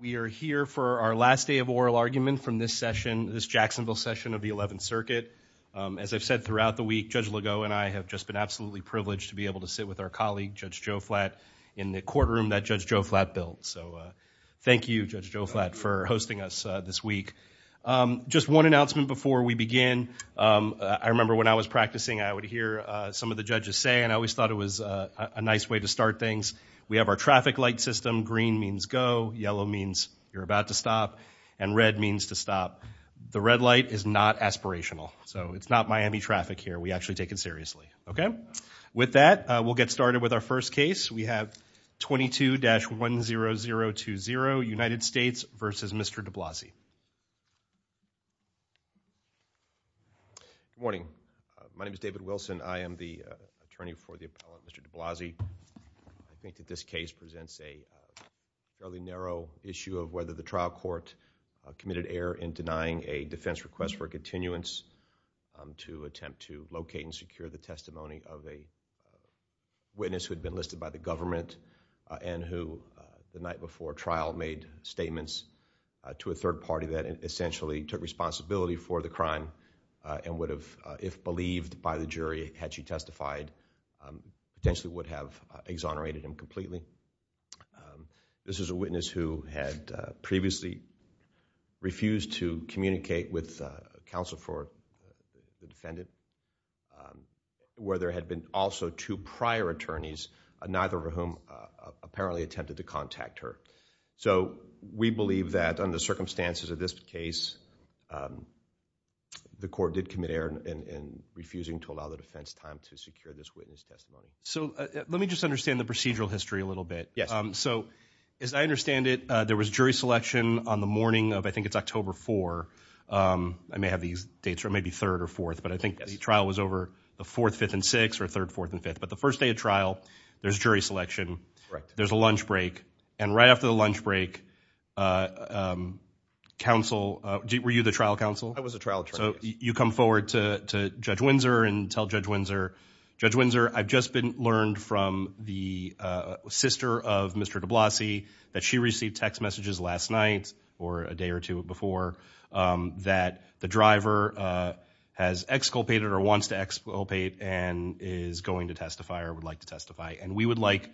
We are here for our last day of oral argument from this session, this Jacksonville session of the 11th Circuit. As I've said throughout the week, Judge Legault and I have just been absolutely privileged to be able to sit with our colleague, Judge Joe Flatt, in the courtroom that Judge Joe Flatt built. So thank you, Judge Joe Flatt, for hosting us this week. Just one announcement before we begin. I remember when I was practicing, I would hear some of the judges say, and I always thought it was a nice way to start things, we have our traffic light system, green means go, yellow means you're about to stop, and red means to stop. The red light is not aspirational, so it's not Miami traffic here, we actually take it seriously. Okay? With that, we'll get started with our first case. We have 22-10020, United States v. Mr. DeBiasi. David Wilson Good morning. My name is David Wilson. I am the attorney for the appellant, Mr. DeBiasi. I think that this case presents a fairly narrow issue of whether the trial court committed error in denying a defense request for a continuance to attempt to locate and secure the testimony of a witness who had been listed by the government and who, the night before trial, made statements to a third party that essentially took responsibility for the crime and would have, if believed by the jury had she testified, potentially would have exonerated him completely. This is a witness who had previously refused to communicate with counsel for the defendant, where there had been also two prior attorneys, neither of whom apparently attempted to contact her. We believe that under the circumstances of this case, the court did commit error in refusing to allow the defense time to secure this witness testimony. Judge Goldberg So let me just understand the procedural history a little bit. As I understand it, there was jury selection on the morning of, I think it's October 4th, I may have these dates right, maybe 3rd or 4th, but I think the trial was over the 4th, 5th, and 6th, or 3rd, 4th, and 5th. But the first day of trial, there's jury selection, and right after the lunch break, counsel, were you the trial counsel? Judge Windsor I was a trial attorney. Judge Goldberg So you come forward to Judge Windsor and tell Judge Windsor, Judge Windsor, I've just been learned from the sister of Mr. DeBlasi that she received text messages last night, or a day or two before, that the driver has exculpated or wants to exculpate and is going to testify or would like to testify. And we would like,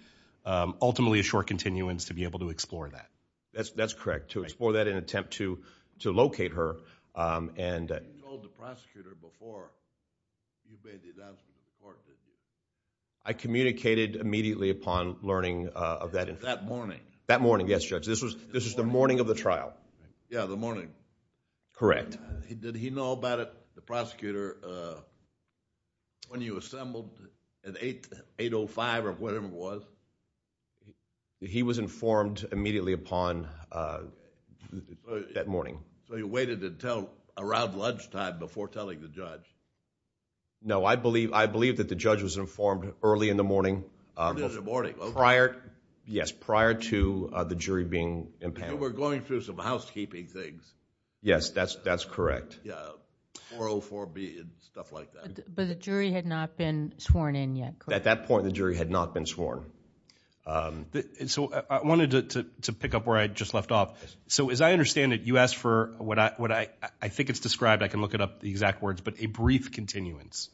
ultimately, a short continuance to be able to explore that. Judge Windsor That's correct, to explore that and attempt to locate her and... Judge Goldberg You told the prosecutor before you made the announcement to the court that you... Judge Windsor I communicated immediately upon learning of that... Judge Goldberg That morning. Judge Windsor That morning, yes, Judge. This was the morning of the trial. Judge Goldberg Yeah, the morning. Judge Windsor Correct. Judge Goldberg Did he know about it, the prosecutor, when you assembled at 8.05 or whatever it was? Judge Windsor He was informed immediately upon that morning. Judge Goldberg So, you waited until around lunchtime before telling the judge? Judge Windsor No, I believe that the judge was informed early in the morning... Judge Goldberg Early in the morning, okay. Judge Windsor Yes, prior to the jury being impounded. Judge Goldberg So, we're going through some housekeeping things. Judge Windsor Yes, that's correct. Judge Goldberg Yeah, 4.04b and stuff like that. But the jury had not been sworn in yet, correct? Judge Windsor At that point, the jury had not been sworn. Judge Goldberg So, I wanted to pick up where I just left off. So, as I understand it, you asked for what I think it's described, I can look it up, the exact words, but a brief continuance,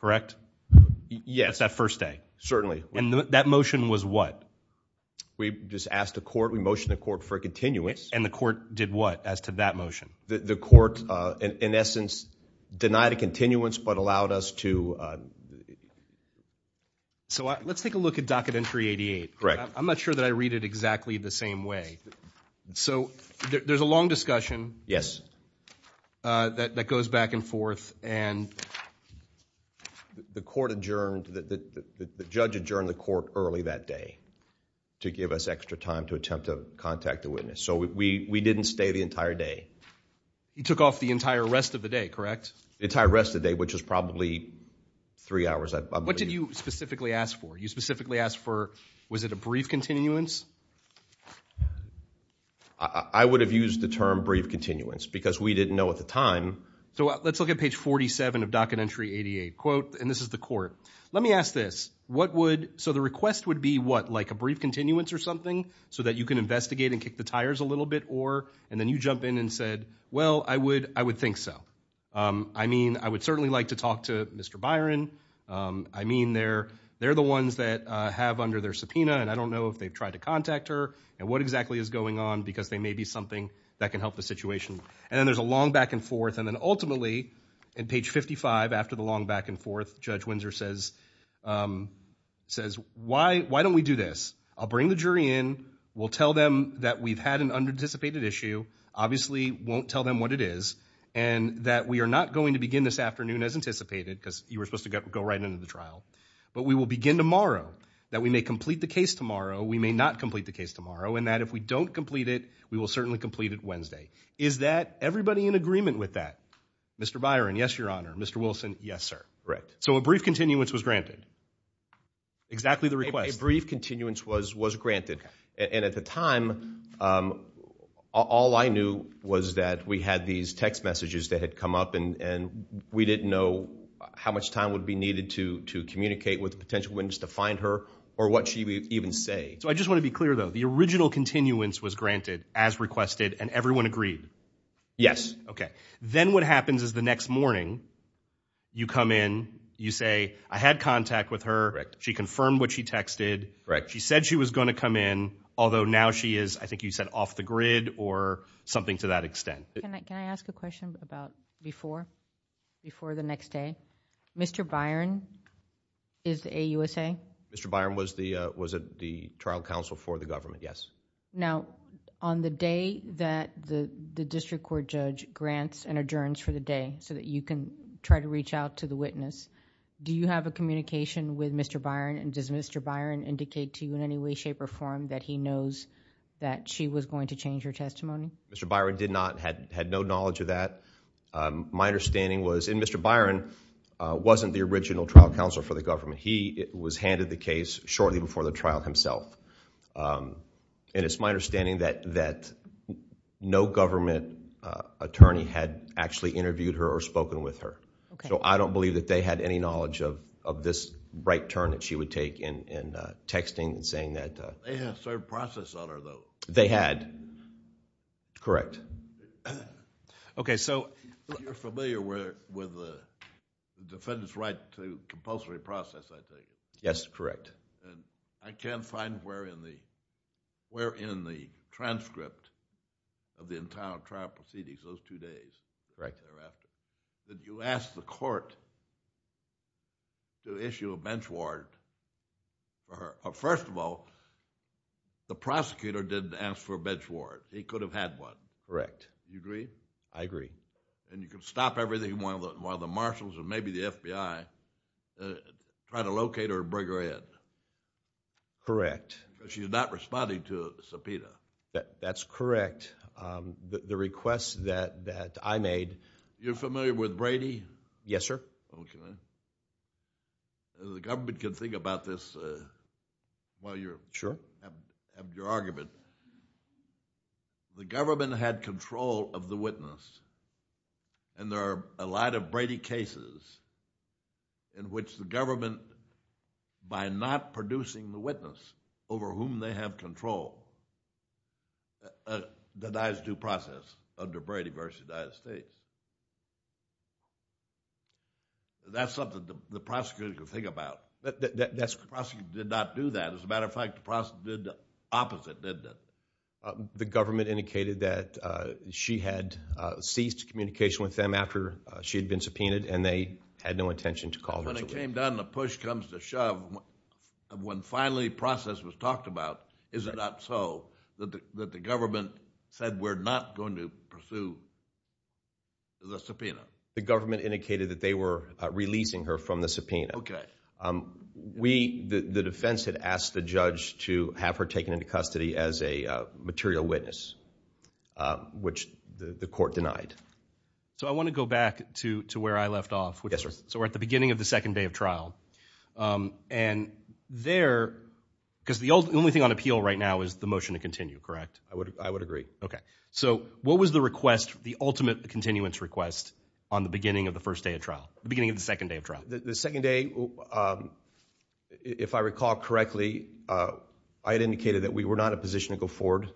correct? Judge Windsor Yes. Judge Goldberg That's that first day. Judge Windsor Certainly. Judge Goldberg And that motion was what? Judge Windsor We just asked the court, we motioned the court for a continuance. Judge Goldberg And the court did what as to that motion? Judge Windsor The court, in essence, denied a continuance but allowed us to... Judge Goldberg So, let's take a look at docket entry 88. Judge Windsor Correct. Judge Goldberg I'm not sure that I read it exactly the same way. So, there's a long discussion. Judge Windsor Yes. Judge Goldberg That goes back and forth and... Judge Windsor The court adjourned, the judge adjourned the court early that day to give us extra time to attempt to contact the witness. So, we didn't stay the entire day. Judge Goldberg You took off the entire rest of the day, correct? Judge Windsor The entire rest of the day, which is probably three hours. Judge Goldberg What did you specifically ask for? You specifically asked for, was it a brief continuance? Judge Windsor I would have used the term brief continuance because we didn't know at the time. Judge Goldberg So, let's look at page 47 of docket entry 88, quote, and this is the court. Let me ask this, what would, so the request would be what, like a brief continuance or something so that you can investigate and kick the tires a little bit or, and then you jump in and said, well, I would, I would think so. I mean, I would certainly like to talk to Mr. Byron. I mean, they're, they're the ones that have under their subpoena, and I don't know if they've tried to contact her and what exactly is going on because they may be something that can help the situation. And then there's a long back and forth. And then ultimately, in page 55, after the long back and forth, Judge Windsor says, says, why, why don't we do this? I'll bring the jury in. We'll tell them that we've had an unanticipated issue, obviously won't tell them what it is. And that we are not going to begin this afternoon as anticipated because you were supposed to go right into the trial, but we will begin tomorrow, that we may complete the case tomorrow. We may not complete the case tomorrow. And that if we don't complete it, we will certainly complete it Wednesday. Is that everybody in agreement with that? Mr. Byron? Yes, Your Honor. Mr. Wilson? Yes, sir. Right. So a brief continuance was granted. Exactly the request. A brief continuance was, was granted. And at the time, all I knew was that we had these text messages that had come up and we didn't know how much time would be needed to, to communicate with the potential witness to find her or what she would even say. So I just want to be clear, though. The original continuance was granted as requested and everyone agreed? Yes. Okay. Then what happens is the next morning you come in, you say, I had contact with her. Correct. She confirmed what she texted. Correct. She said she was going to come in. Although now she is, I think you said off the grid or something to that extent. Can I, can I ask a question about before, before the next day, Mr. Byron is the AUSA? Mr. Byron was the, was it the trial counsel for the government? Yes. Now on the day that the, the district court judge grants an adjournance for the day so that you can try to reach out to the witness, do you have a communication with Mr. Byron? And does Mr. Byron indicate to you in any way, shape or form that he knows that she was going to change her testimony? Mr. Byron did not, had, had no knowledge of that. My understanding was, and Mr. Byron wasn't the original trial counsel for the government. He was handed the case shortly before the trial himself. And it's my understanding that, that no government attorney had actually interviewed her or spoken with her. So I don't believe that they had any knowledge of, of this right turn that she would take in, in texting and saying that... They had a certain process on her though. They had, correct. Okay, so... You're familiar with the defendant's right to compulsory process, I think. Yes, correct. And I can't find where in the, where in the transcript of the entire trial proceedings, those two days. Correct. That you asked the court to issue a bench warrant for her. First of all, the prosecutor didn't ask for a bench warrant. He could have had one. Correct. You agree? I agree. And you could stop everything while the, while the marshals or maybe the FBI try to locate her and bring her in. Correct. She's not responding to a subpoena. That's correct. The request that, that I made... You're familiar with Brady? Yes, sir. Okay. The government can think about this while you're... Sure.... have your argument. The government had control of the witness. And there are a lot of Brady cases in which the government, by not producing the witness over whom they have control, denies due process under Brady v. Dyess State. That's something the prosecutor could think about. That's, the prosecutor did not do that. As a matter of fact, the prosecutor did the opposite, didn't it? The government indicated that she had ceased communication with them after she had been subpoenaed and they had no intention to call her. When it came down to push comes to shove, when finally process was talked about, is it not so that the government said we're not going to pursue the subpoena? The government indicated that they were releasing her from the subpoena. Okay. We, the defense had asked the judge to have her taken into custody as a material witness, which the court denied. So I want to go back to where I left off. Yes, sir. So we're at the beginning of the second day of trial. And there, because the only thing on appeal right now is the motion to continue, correct? I would, I would agree. Okay. So what was the request, the ultimate continuance request, on the beginning of the first day of trial, the beginning of the second day of trial? The second day, if I recall correctly, I had indicated that we were not in a position to go forward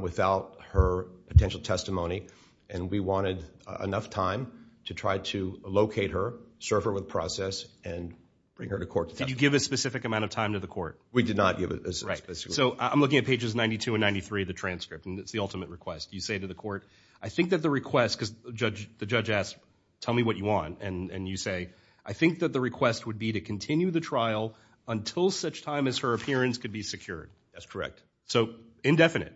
without her potential testimony. And we wanted enough time to try to locate her, serve her with process, and bring her to court. Did you give a specific amount of time to the court? We did not give it a specific amount. So I'm looking at pages 92 and 93 of the transcript, and it's the ultimate request. You say to the court, I think that the request, because the judge asked, tell me what you want. And you say, I think that the request would be to continue the trial until such time as her appearance could be secured. That's correct. So indefinite.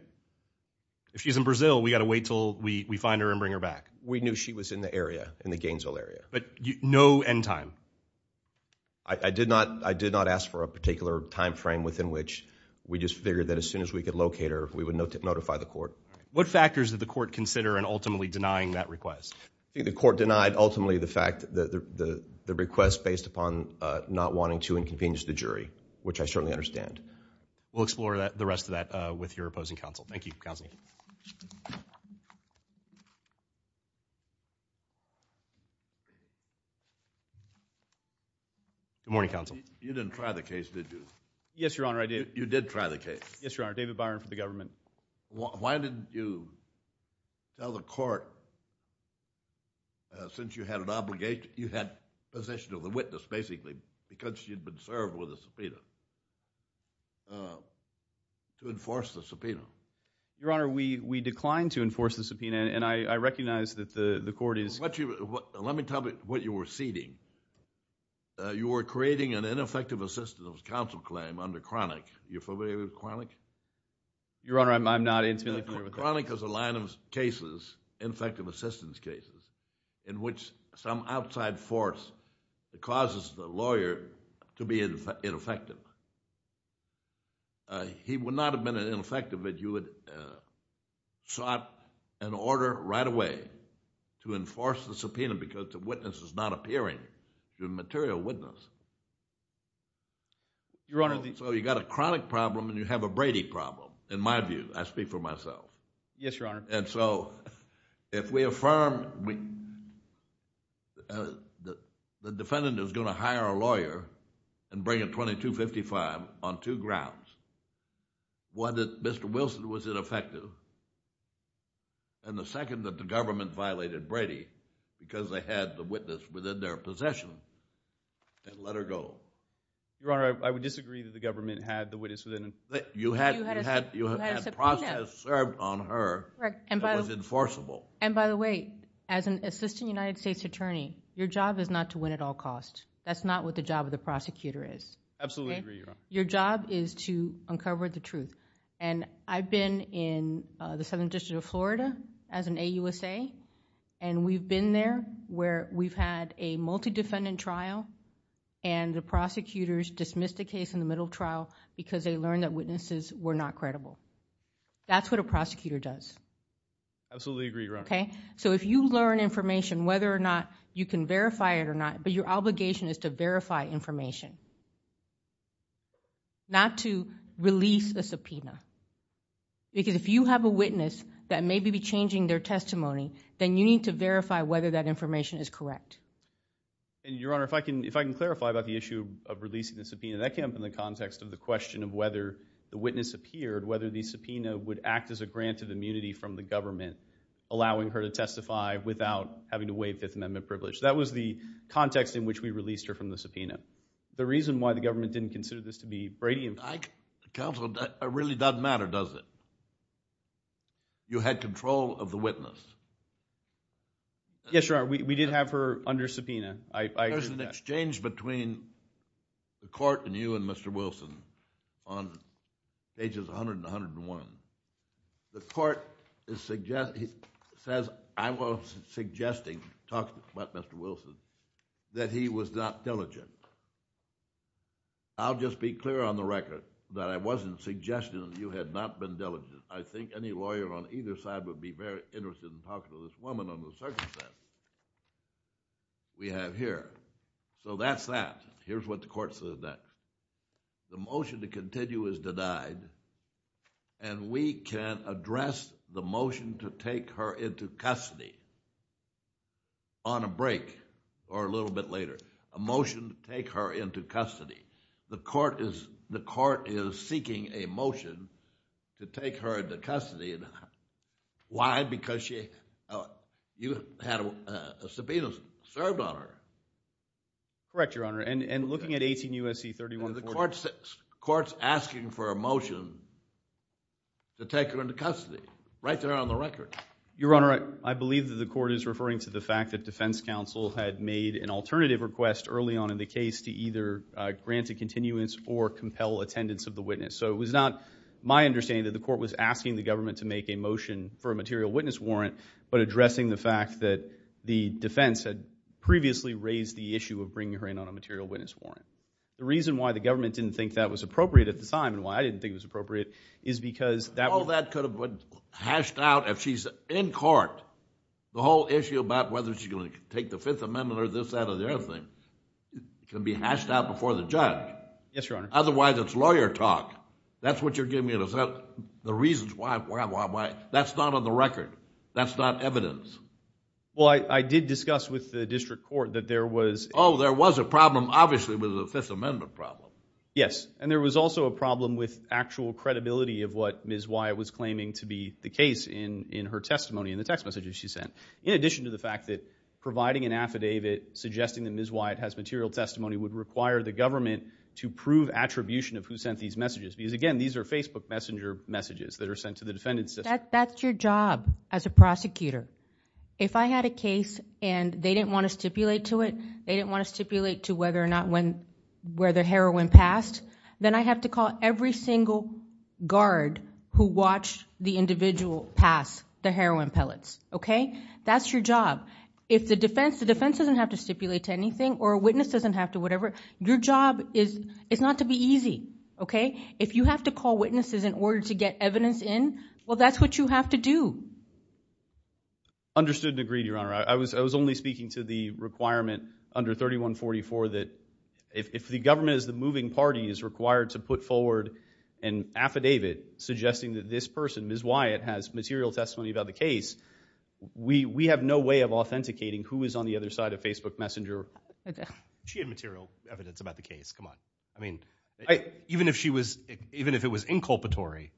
If she's in Brazil, we got to wait until we find her and bring her back. We knew she was in the area, in the Gainesville area. But no end time? I did not, I did not ask for a particular time frame within which we just figured that as soon as we could locate her, we would notify the court. What factors did the court consider in ultimately denying that request? I think the court denied ultimately the fact that the request based upon not wanting to inconvenience the jury, which I certainly understand. We'll explore the rest of that with your opposing counsel. Thank you, counsel. Good morning, counsel. You didn't try the case, did you? Yes, Your Honor, I did. You did try the case? Yes, Your Honor. David Byron for the government. Why didn't you tell the court, since you had an obligation, you had possession of the witness, basically, because she'd been served with a subpoena? To enforce the subpoena. Your Honor, we declined to enforce the subpoena, and I recognize that the court is... Let me tell you what you were ceding. You were creating an ineffective assistance counsel claim under chronic. You familiar with chronic? Your Honor, I'm not intimately familiar with that. Chronic is a line of cases, ineffective assistance cases, in which some outside force causes the lawyer to be ineffective. He would not have been ineffective if you had sought an order right away to enforce the subpoena because the witness is not appearing, the material witness. Your Honor... So you've got a chronic problem, and you have a Brady problem, in my view. I speak for myself. Yes, Your Honor. And so, if we affirm... The defendant is going to hire a lawyer and bring a 2255 on two grounds. One, that Mr. Wilson was ineffective, and the second, that the government violated Brady because they had the witness within their possession and let her go. Your Honor, I would disagree that the government had the witness within... You had a process served on her that was enforceable. And by the way, as an assistant United States attorney, your job is not to win at all costs. That's not what the job of the prosecutor is. Absolutely agree, Your Honor. Your job is to uncover the truth. I've been in the Southern District of Florida as an AUSA, and we've been there where we've had a multi-defendant trial, and the prosecutors dismissed the case in the middle trial because they learned that witnesses were not credible. That's what a prosecutor does. Absolutely agree, Your Honor. Okay, so if you learn information, whether or not you can verify it or not, but your obligation is to verify information, not to release a subpoena. Because if you have a witness that may be changing their testimony, then you need to verify whether that information is correct. And Your Honor, if I can clarify about the issue of releasing the subpoena, that came up in the context of the question of whether the witness appeared, whether the subpoena would act as a grant of immunity from the government, allowing her to testify without having to waive Fifth Amendment privilege. That was the context in which we released her from the subpoena. The reason why the government didn't consider this to be Brady- Counsel, it really doesn't matter, does it? You had control of the witness. Yes, Your Honor, we did have her under subpoena. There's an exchange between the court and you and Mr. Wilson on pages 100 and 101. The court says, I was suggesting, talking about Mr. Wilson, that he was not diligent. I'll just be clear on the record that I wasn't suggesting that you had not been diligent. I think any lawyer on either side would be very interested in talking to this woman on the circumstance we have here. So that's that. Here's what the court says then. The motion to continue is denied and we can address the motion to take her into custody on a break or a little bit later. A motion to take her into custody. The court is seeking a motion to take her into custody. Why? Because you had a subpoena served on her. Correct, Your Honor. And looking at 18 U.S.C. 31- The court's asking for a motion to take her into custody. Right there on the record. Your Honor, I believe that the court is referring to the fact that defense counsel had made an alternative request early on in the case to either grant a continuance or compel attendance of the witness. So it was not my understanding that the court was asking the government to make a motion for a material witness warrant but addressing the fact that the defense had previously raised the issue of bringing her in on a material witness warrant. The reason why the government didn't think that was appropriate at the time and why I didn't think it was appropriate is because that- All that could have been hashed out if she's in court. The whole issue about whether she's going to take the Fifth Amendment or this, that, or the other thing can be hashed out before the judge. Yes, Your Honor. Otherwise, it's lawyer talk. That's what you're giving me an assumption. The reasons why, why, why, why. That's not on the record. That's not evidence. Well, I did discuss with the district court that there was- Oh, there was a problem, obviously, with the Fifth Amendment problem. Yes. And there was also a problem with actual credibility of what Ms. Wyatt was claiming to be the case in her testimony in the text messages she sent. In addition to the fact that providing an affidavit suggesting that Ms. Wyatt has material testimony would require the government to prove attribution of who messages that are sent to the defendant system. That's your job as a prosecutor. If I had a case and they didn't want to stipulate to it, they didn't want to stipulate to whether or not when, where the heroin passed, then I have to call every single guard who watched the individual pass the heroin pellets, okay? That's your job. If the defense, the defense doesn't have to stipulate to anything or a witness doesn't have to, whatever. Your job is, it's not to be easy, okay? If you have to call witnesses in order to get evidence in, well, that's what you have to do. Understood and agreed, Your Honor. I was only speaking to the requirement under 3144 that if the government as the moving party is required to put forward an affidavit suggesting that this person, Ms. Wyatt, has material testimony about the case, we have no way of authenticating who is on the other side of Facebook Messenger. She had material evidence about the case. Come on. I mean, even if she was, even if it was inculpatory,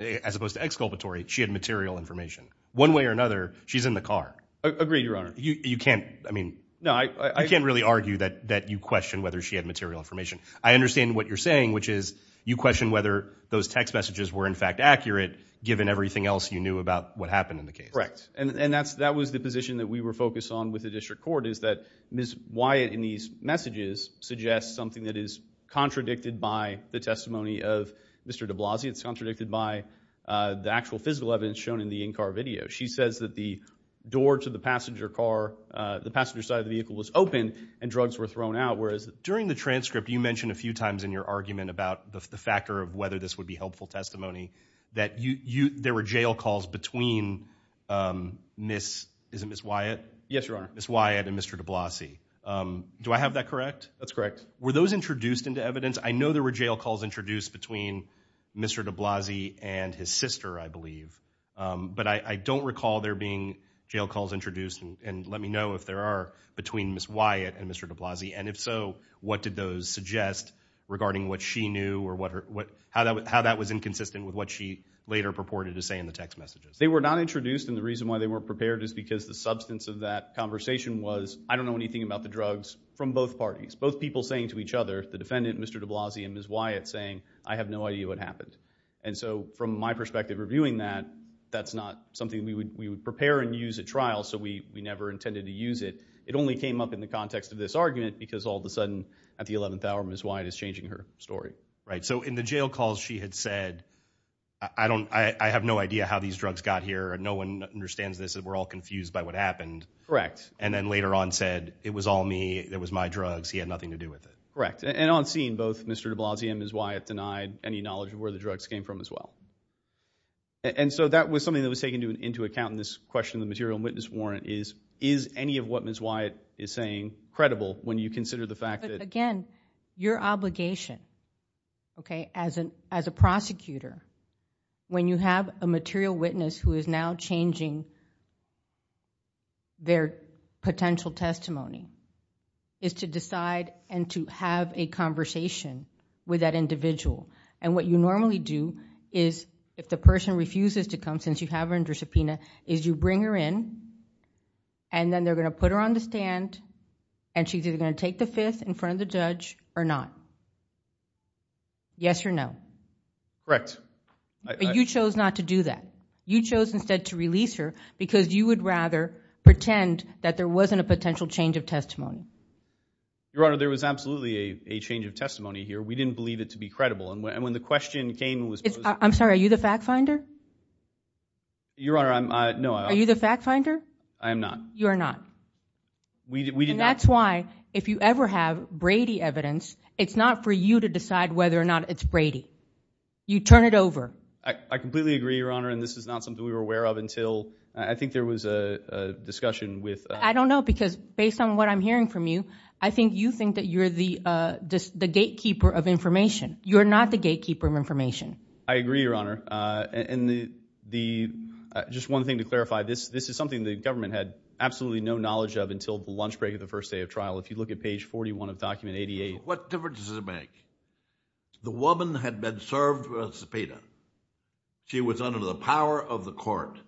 as opposed to exculpatory, she had material information. One way or another, she's in the car. Agreed, Your Honor. You can't, I mean, you can't really argue that you question whether she had material information. I understand what you're saying, which is you question whether those text messages were in fact accurate, given everything else you knew about what happened in the case. Correct. And that was the position that we were focused on with the district court, is that Ms. Wyatt, in these messages, suggests something that is contradicted by the testimony of Mr. de Blasio. It's contradicted by the actual physical evidence shown in the in-car video. She says that the door to the passenger car, the passenger side of the vehicle was open and drugs were thrown out, whereas... During the transcript, you mentioned a few times in your argument about the factor of whether this would be helpful testimony, that there were jail calls between Ms., is it Ms. Wyatt? Yes, Your Honor. Ms. Wyatt and Mr. de Blasio. Do I have that correct? That's correct. Were those introduced into evidence? I know there were jail calls introduced between Mr. de Blasio and his sister, I believe, but I don't recall there being jail calls introduced, and let me know if there are, between Ms. Wyatt and Mr. de Blasio, and if so, what did those suggest regarding what she knew or how that was inconsistent with what she later purported to say in the text messages? They were not introduced, and the reason why they weren't prepared is because the substance of that conversation was, I don't know anything about the drugs from both parties, both people saying to each other, the defendant, Mr. de Blasio, and Ms. Wyatt saying, I have no idea what happened. And so, from my perspective reviewing that, that's not something we would prepare and use at trial, so we never intended to use it. It only came up in the context of this argument, because all of a sudden, at the 11th hour, Ms. Wyatt is changing her story. Right. So in the jail calls, she had said, I have no idea how these drugs got here, and no one understands this, we're all confused by what happened. Correct. And then later on said, it was all me, it was my drugs, he had nothing to do with it. Correct. And on scene, both Mr. de Blasio and Ms. Wyatt denied any knowledge of where the drugs came from as well. And so that was something that was taken into account in this question of the material witness warrant is, is any of what Ms. Wyatt is saying credible when you consider the fact that... Again, your obligation, okay, as a prosecutor, when you have a material witness who is now changing their potential testimony, is to decide and to have a conversation with that individual. And what you normally do is, if the person refuses to come, since you have her under subpoena, is you bring her in, and then they're going to put her on the stand, and she's either going to take the fifth in front of the judge or not. Yes or no? Correct. But you chose not to do that. You chose instead to release her because you would rather pretend that there wasn't a potential change of testimony. Your Honor, there was absolutely a change of testimony here. We didn't believe it to be credible. And when the question came, it was... I'm sorry, are you the fact finder? Your Honor, I'm... No, I... Are you the fact finder? I am not. You are not. We did not... And that's why, if you ever have Brady evidence, it's not for you to decide whether or not it's Brady. You turn it over. I completely agree, Your Honor, and this is not something we were aware of until... I think there was a discussion with... I don't know, because based on what I'm hearing from you, I think you think that you're the gatekeeper of information. You're not the gatekeeper of information. I agree, Your Honor. And the... Just one thing to clarify, this is something the government had absolutely no knowledge of until the lunch break of the first day of trial. If you look at page 41 of document 88... What difference does it make? The woman had been served a subpoena. She was under the power of the court.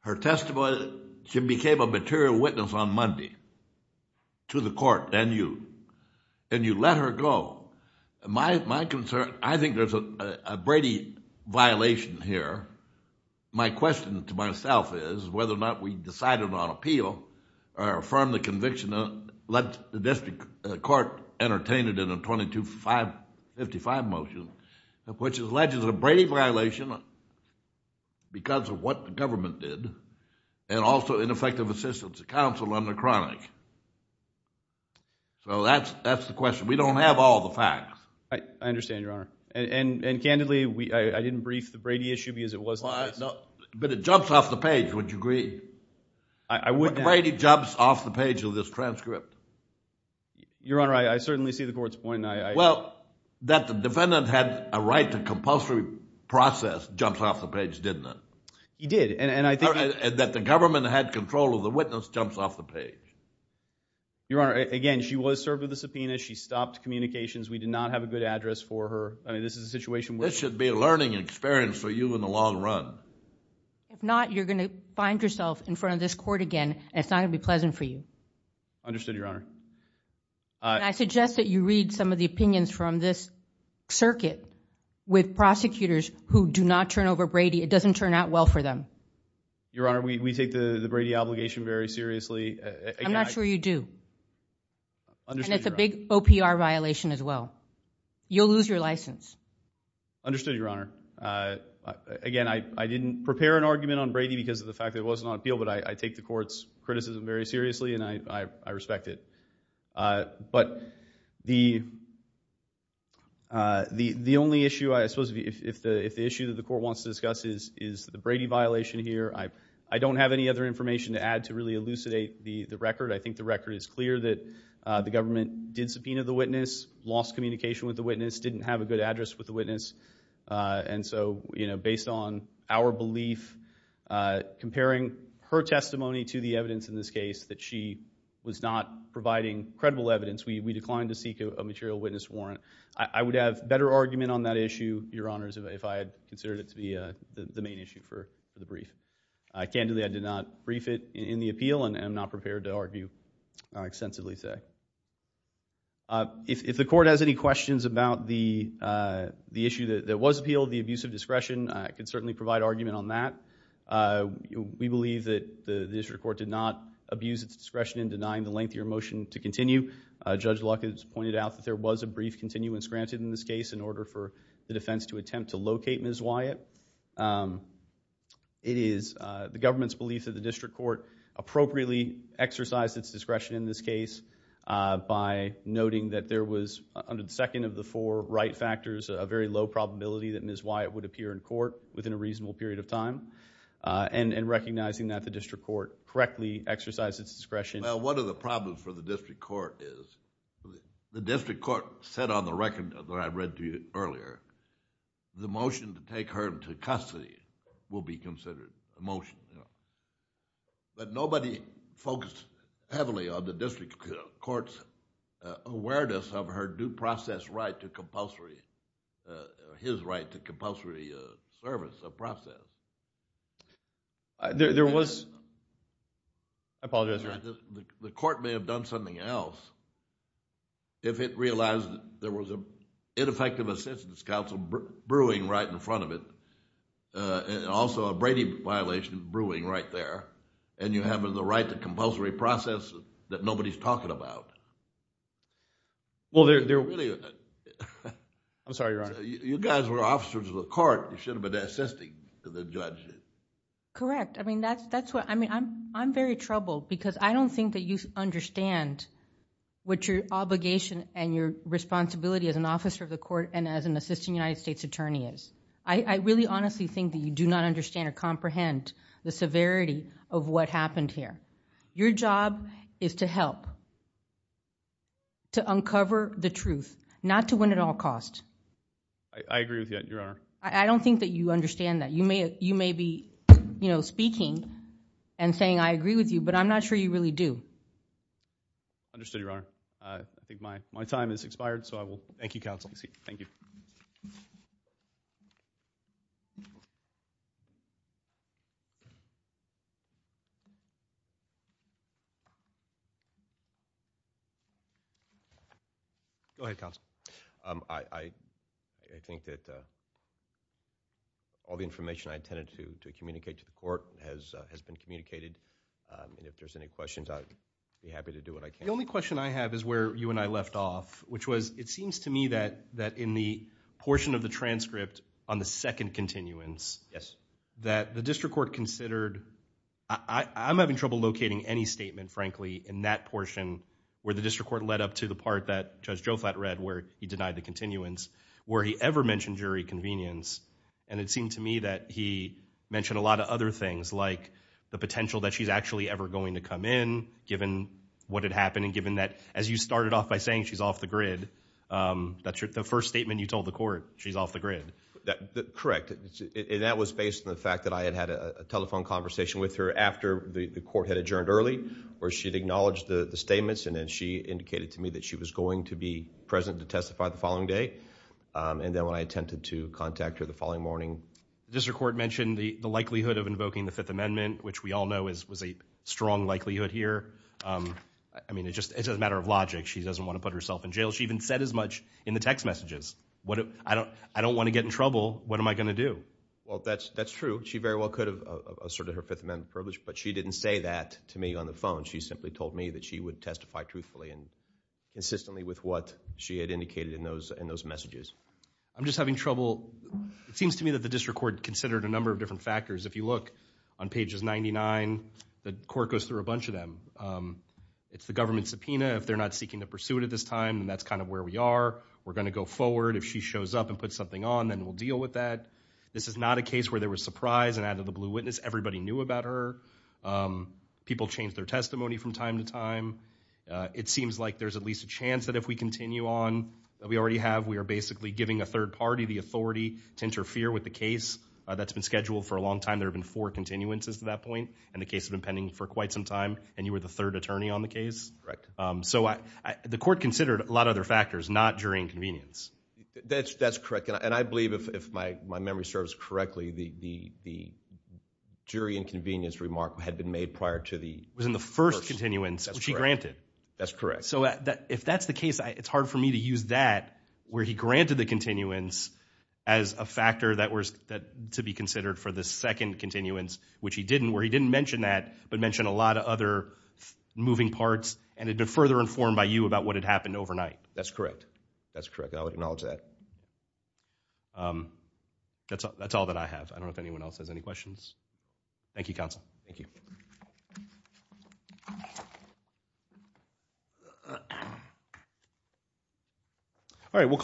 Her testimony... She became a material witness on Monday to the court and you. And you let her go. My concern... I think there's a Brady violation here. My question to myself is whether or not we decided on appeal or affirmed the conviction and let the district court entertain it in a 2255 motion, which is alleged as a Brady violation because of what the government did and also ineffective assistance to counsel under chronic. So that's the question. We don't have all the facts. I understand, Your Honor. And candidly, I didn't brief the Brady issue because it was... But it jumps off the page, would you agree? I would... Brady jumps off the page of this transcript. Your Honor, I certainly see the court's point. Well, that the defendant had a right to compulsory process jumps off the page, didn't it? He did and I think... That the government had control of the witness jumps off the page. Your Honor, again, she was served with a subpoena. She stopped communications. We did not have a good address for her. I mean, this is a situation where... This should be a learning experience for you in the long run. If not, you're going to find yourself in front of this court again and it's not going to be pleasant for you. Understood, Your Honor. I suggest that you read some of the opinions from this circuit with prosecutors who do not turn over Brady. It doesn't turn out well for them. Your Honor, we take the Brady obligation very seriously. I'm not sure you do. And it's a big OPR violation as well. You'll lose your license. Understood, Your Honor. Again, I didn't prepare an argument on Brady because of the fact that it wasn't on appeal, but I take the court's criticism very seriously and I respect it. But the only issue, I suppose, if the issue that the court wants to discuss is the Brady violation here, I don't have any other information to add to really elucidate the record. I think the record is clear that the government did subpoena the witness, didn't have a good address with the witness. And so, you know, based on our belief, comparing her testimony to the evidence in this case that she was not providing credible evidence, we declined to seek a material witness warrant. I would have better argument on that issue, Your Honors, if I had considered it to be the main issue for the brief. Candidly, I did not brief it in the appeal and I'm not prepared to argue or extensively say. If the court has any questions about the issue that was appealed, the abuse of discretion, I can certainly provide argument on that. We believe that the district court did not abuse its discretion in denying the lengthier motion to continue. Judge Luck has pointed out that there was a brief continuance granted in this case in order for the defense to attempt to locate Ms. Wyatt. It is the government's belief that the district court appropriately exercised its discretion in this case by noting that there was, under the second of the four right factors, a very low probability that Ms. Wyatt would appear in court within a reasonable period of time and recognizing that the district court correctly exercised its discretion. Well, one of the problems for the district court is, the district court said on the record that I read to you earlier, the motion to take her into custody will be considered a motion. But nobody focused heavily on the district court's right to compulsory service or process. The court may have done something else if it realized that there was an ineffective assistance counsel brewing right in front of it, also a Brady violation brewing right there, and you have the right to compulsory process that nobody's talking about. I'm sorry, Your Honor. You guys were officers of the court. You should have been assisting the judge. Correct. I'm very troubled because I don't think that you understand what your obligation and your responsibility as an officer of the court and as an assistant United States attorney is. I really honestly think that you do not understand or comprehend the severity of what happened here. Your job is to help, to uncover the truth, not to win at all cost. I agree with you, Your Honor. I don't think that you understand that. You may be speaking and saying I agree with you, but I'm not sure you really do. Understood, Your Honor. I think my time has expired, so I will thank you, counsel. Thank you. Go ahead, counsel. I think that all the information I intended to communicate to the court has been communicated. If there's any questions, I'd be happy to do what I can. The only question I have is where you and I left off, which was it seems to me that in the portion of the transcript I'm having trouble locating any statement, frankly, in that portion where the district court led up to the part that Judge Joflat read where he denied the continuance, where he ever mentioned jury convenience. It seemed to me that he mentioned a lot of other things like the potential that she's actually ever going to come in given what had happened and given that as you started off by saying she's off the grid, that's the first statement you told the court, she's off the grid. Correct. That was based on the fact that I had had a telephone conversation with her after the court had adjourned early where she had acknowledged the statements and then she indicated to me that she was going to be present to testify the following day. And then when I attempted to contact her the following morning. District court mentioned the likelihood of invoking the Fifth Amendment, which we all know was a strong likelihood here. I mean, it's just a matter of logic. She doesn't want to put herself in jail. She even said as much in the text messages. I don't want to get in trouble. What am I going to do? Well, that's true. She very well could have asserted her Fifth Amendment privilege, but she didn't say that to me on the phone. She simply told me that she would testify truthfully and insistently with what she had indicated in those messages. I'm just having trouble. It seems to me that the district court considered a number of different factors. If you look on pages 99, the court goes through a bunch of them. It's the government subpoena. If they're not seeking to pursue it at this time, that's kind of where we are. We're going to go forward. If she shows up and puts something on, then we'll deal with that. This is not a case where there was surprise and out of the blue witness. Everybody knew about her. People changed their testimony from time to time. It seems like there's at least a chance that if we continue on, that we already have. We are basically giving a third party the authority to interfere with the case. That's been scheduled for a long time. There have been four continuances to that point, and the case has been pending for quite some time, and you were the third attorney on the case? Correct. So the court considered a lot of other factors, not jury inconvenience. That's correct. And I believe, if my memory serves correctly, the jury inconvenience remark had been made prior to the first. It was in the first continuance, which he granted. That's correct. So if that's the case, it's hard for me to use that, where he granted the continuance as a factor that was to be considered for the second continuance, which he didn't, where he didn't mention that, but mentioned a lot of other moving parts and had been further informed by you about what had happened overnight. That's correct. That's correct. I would acknowledge that. Um, that's all that I have. I don't know if anyone else has any questions. Thank you, counsel. Thank you. All right, we'll call.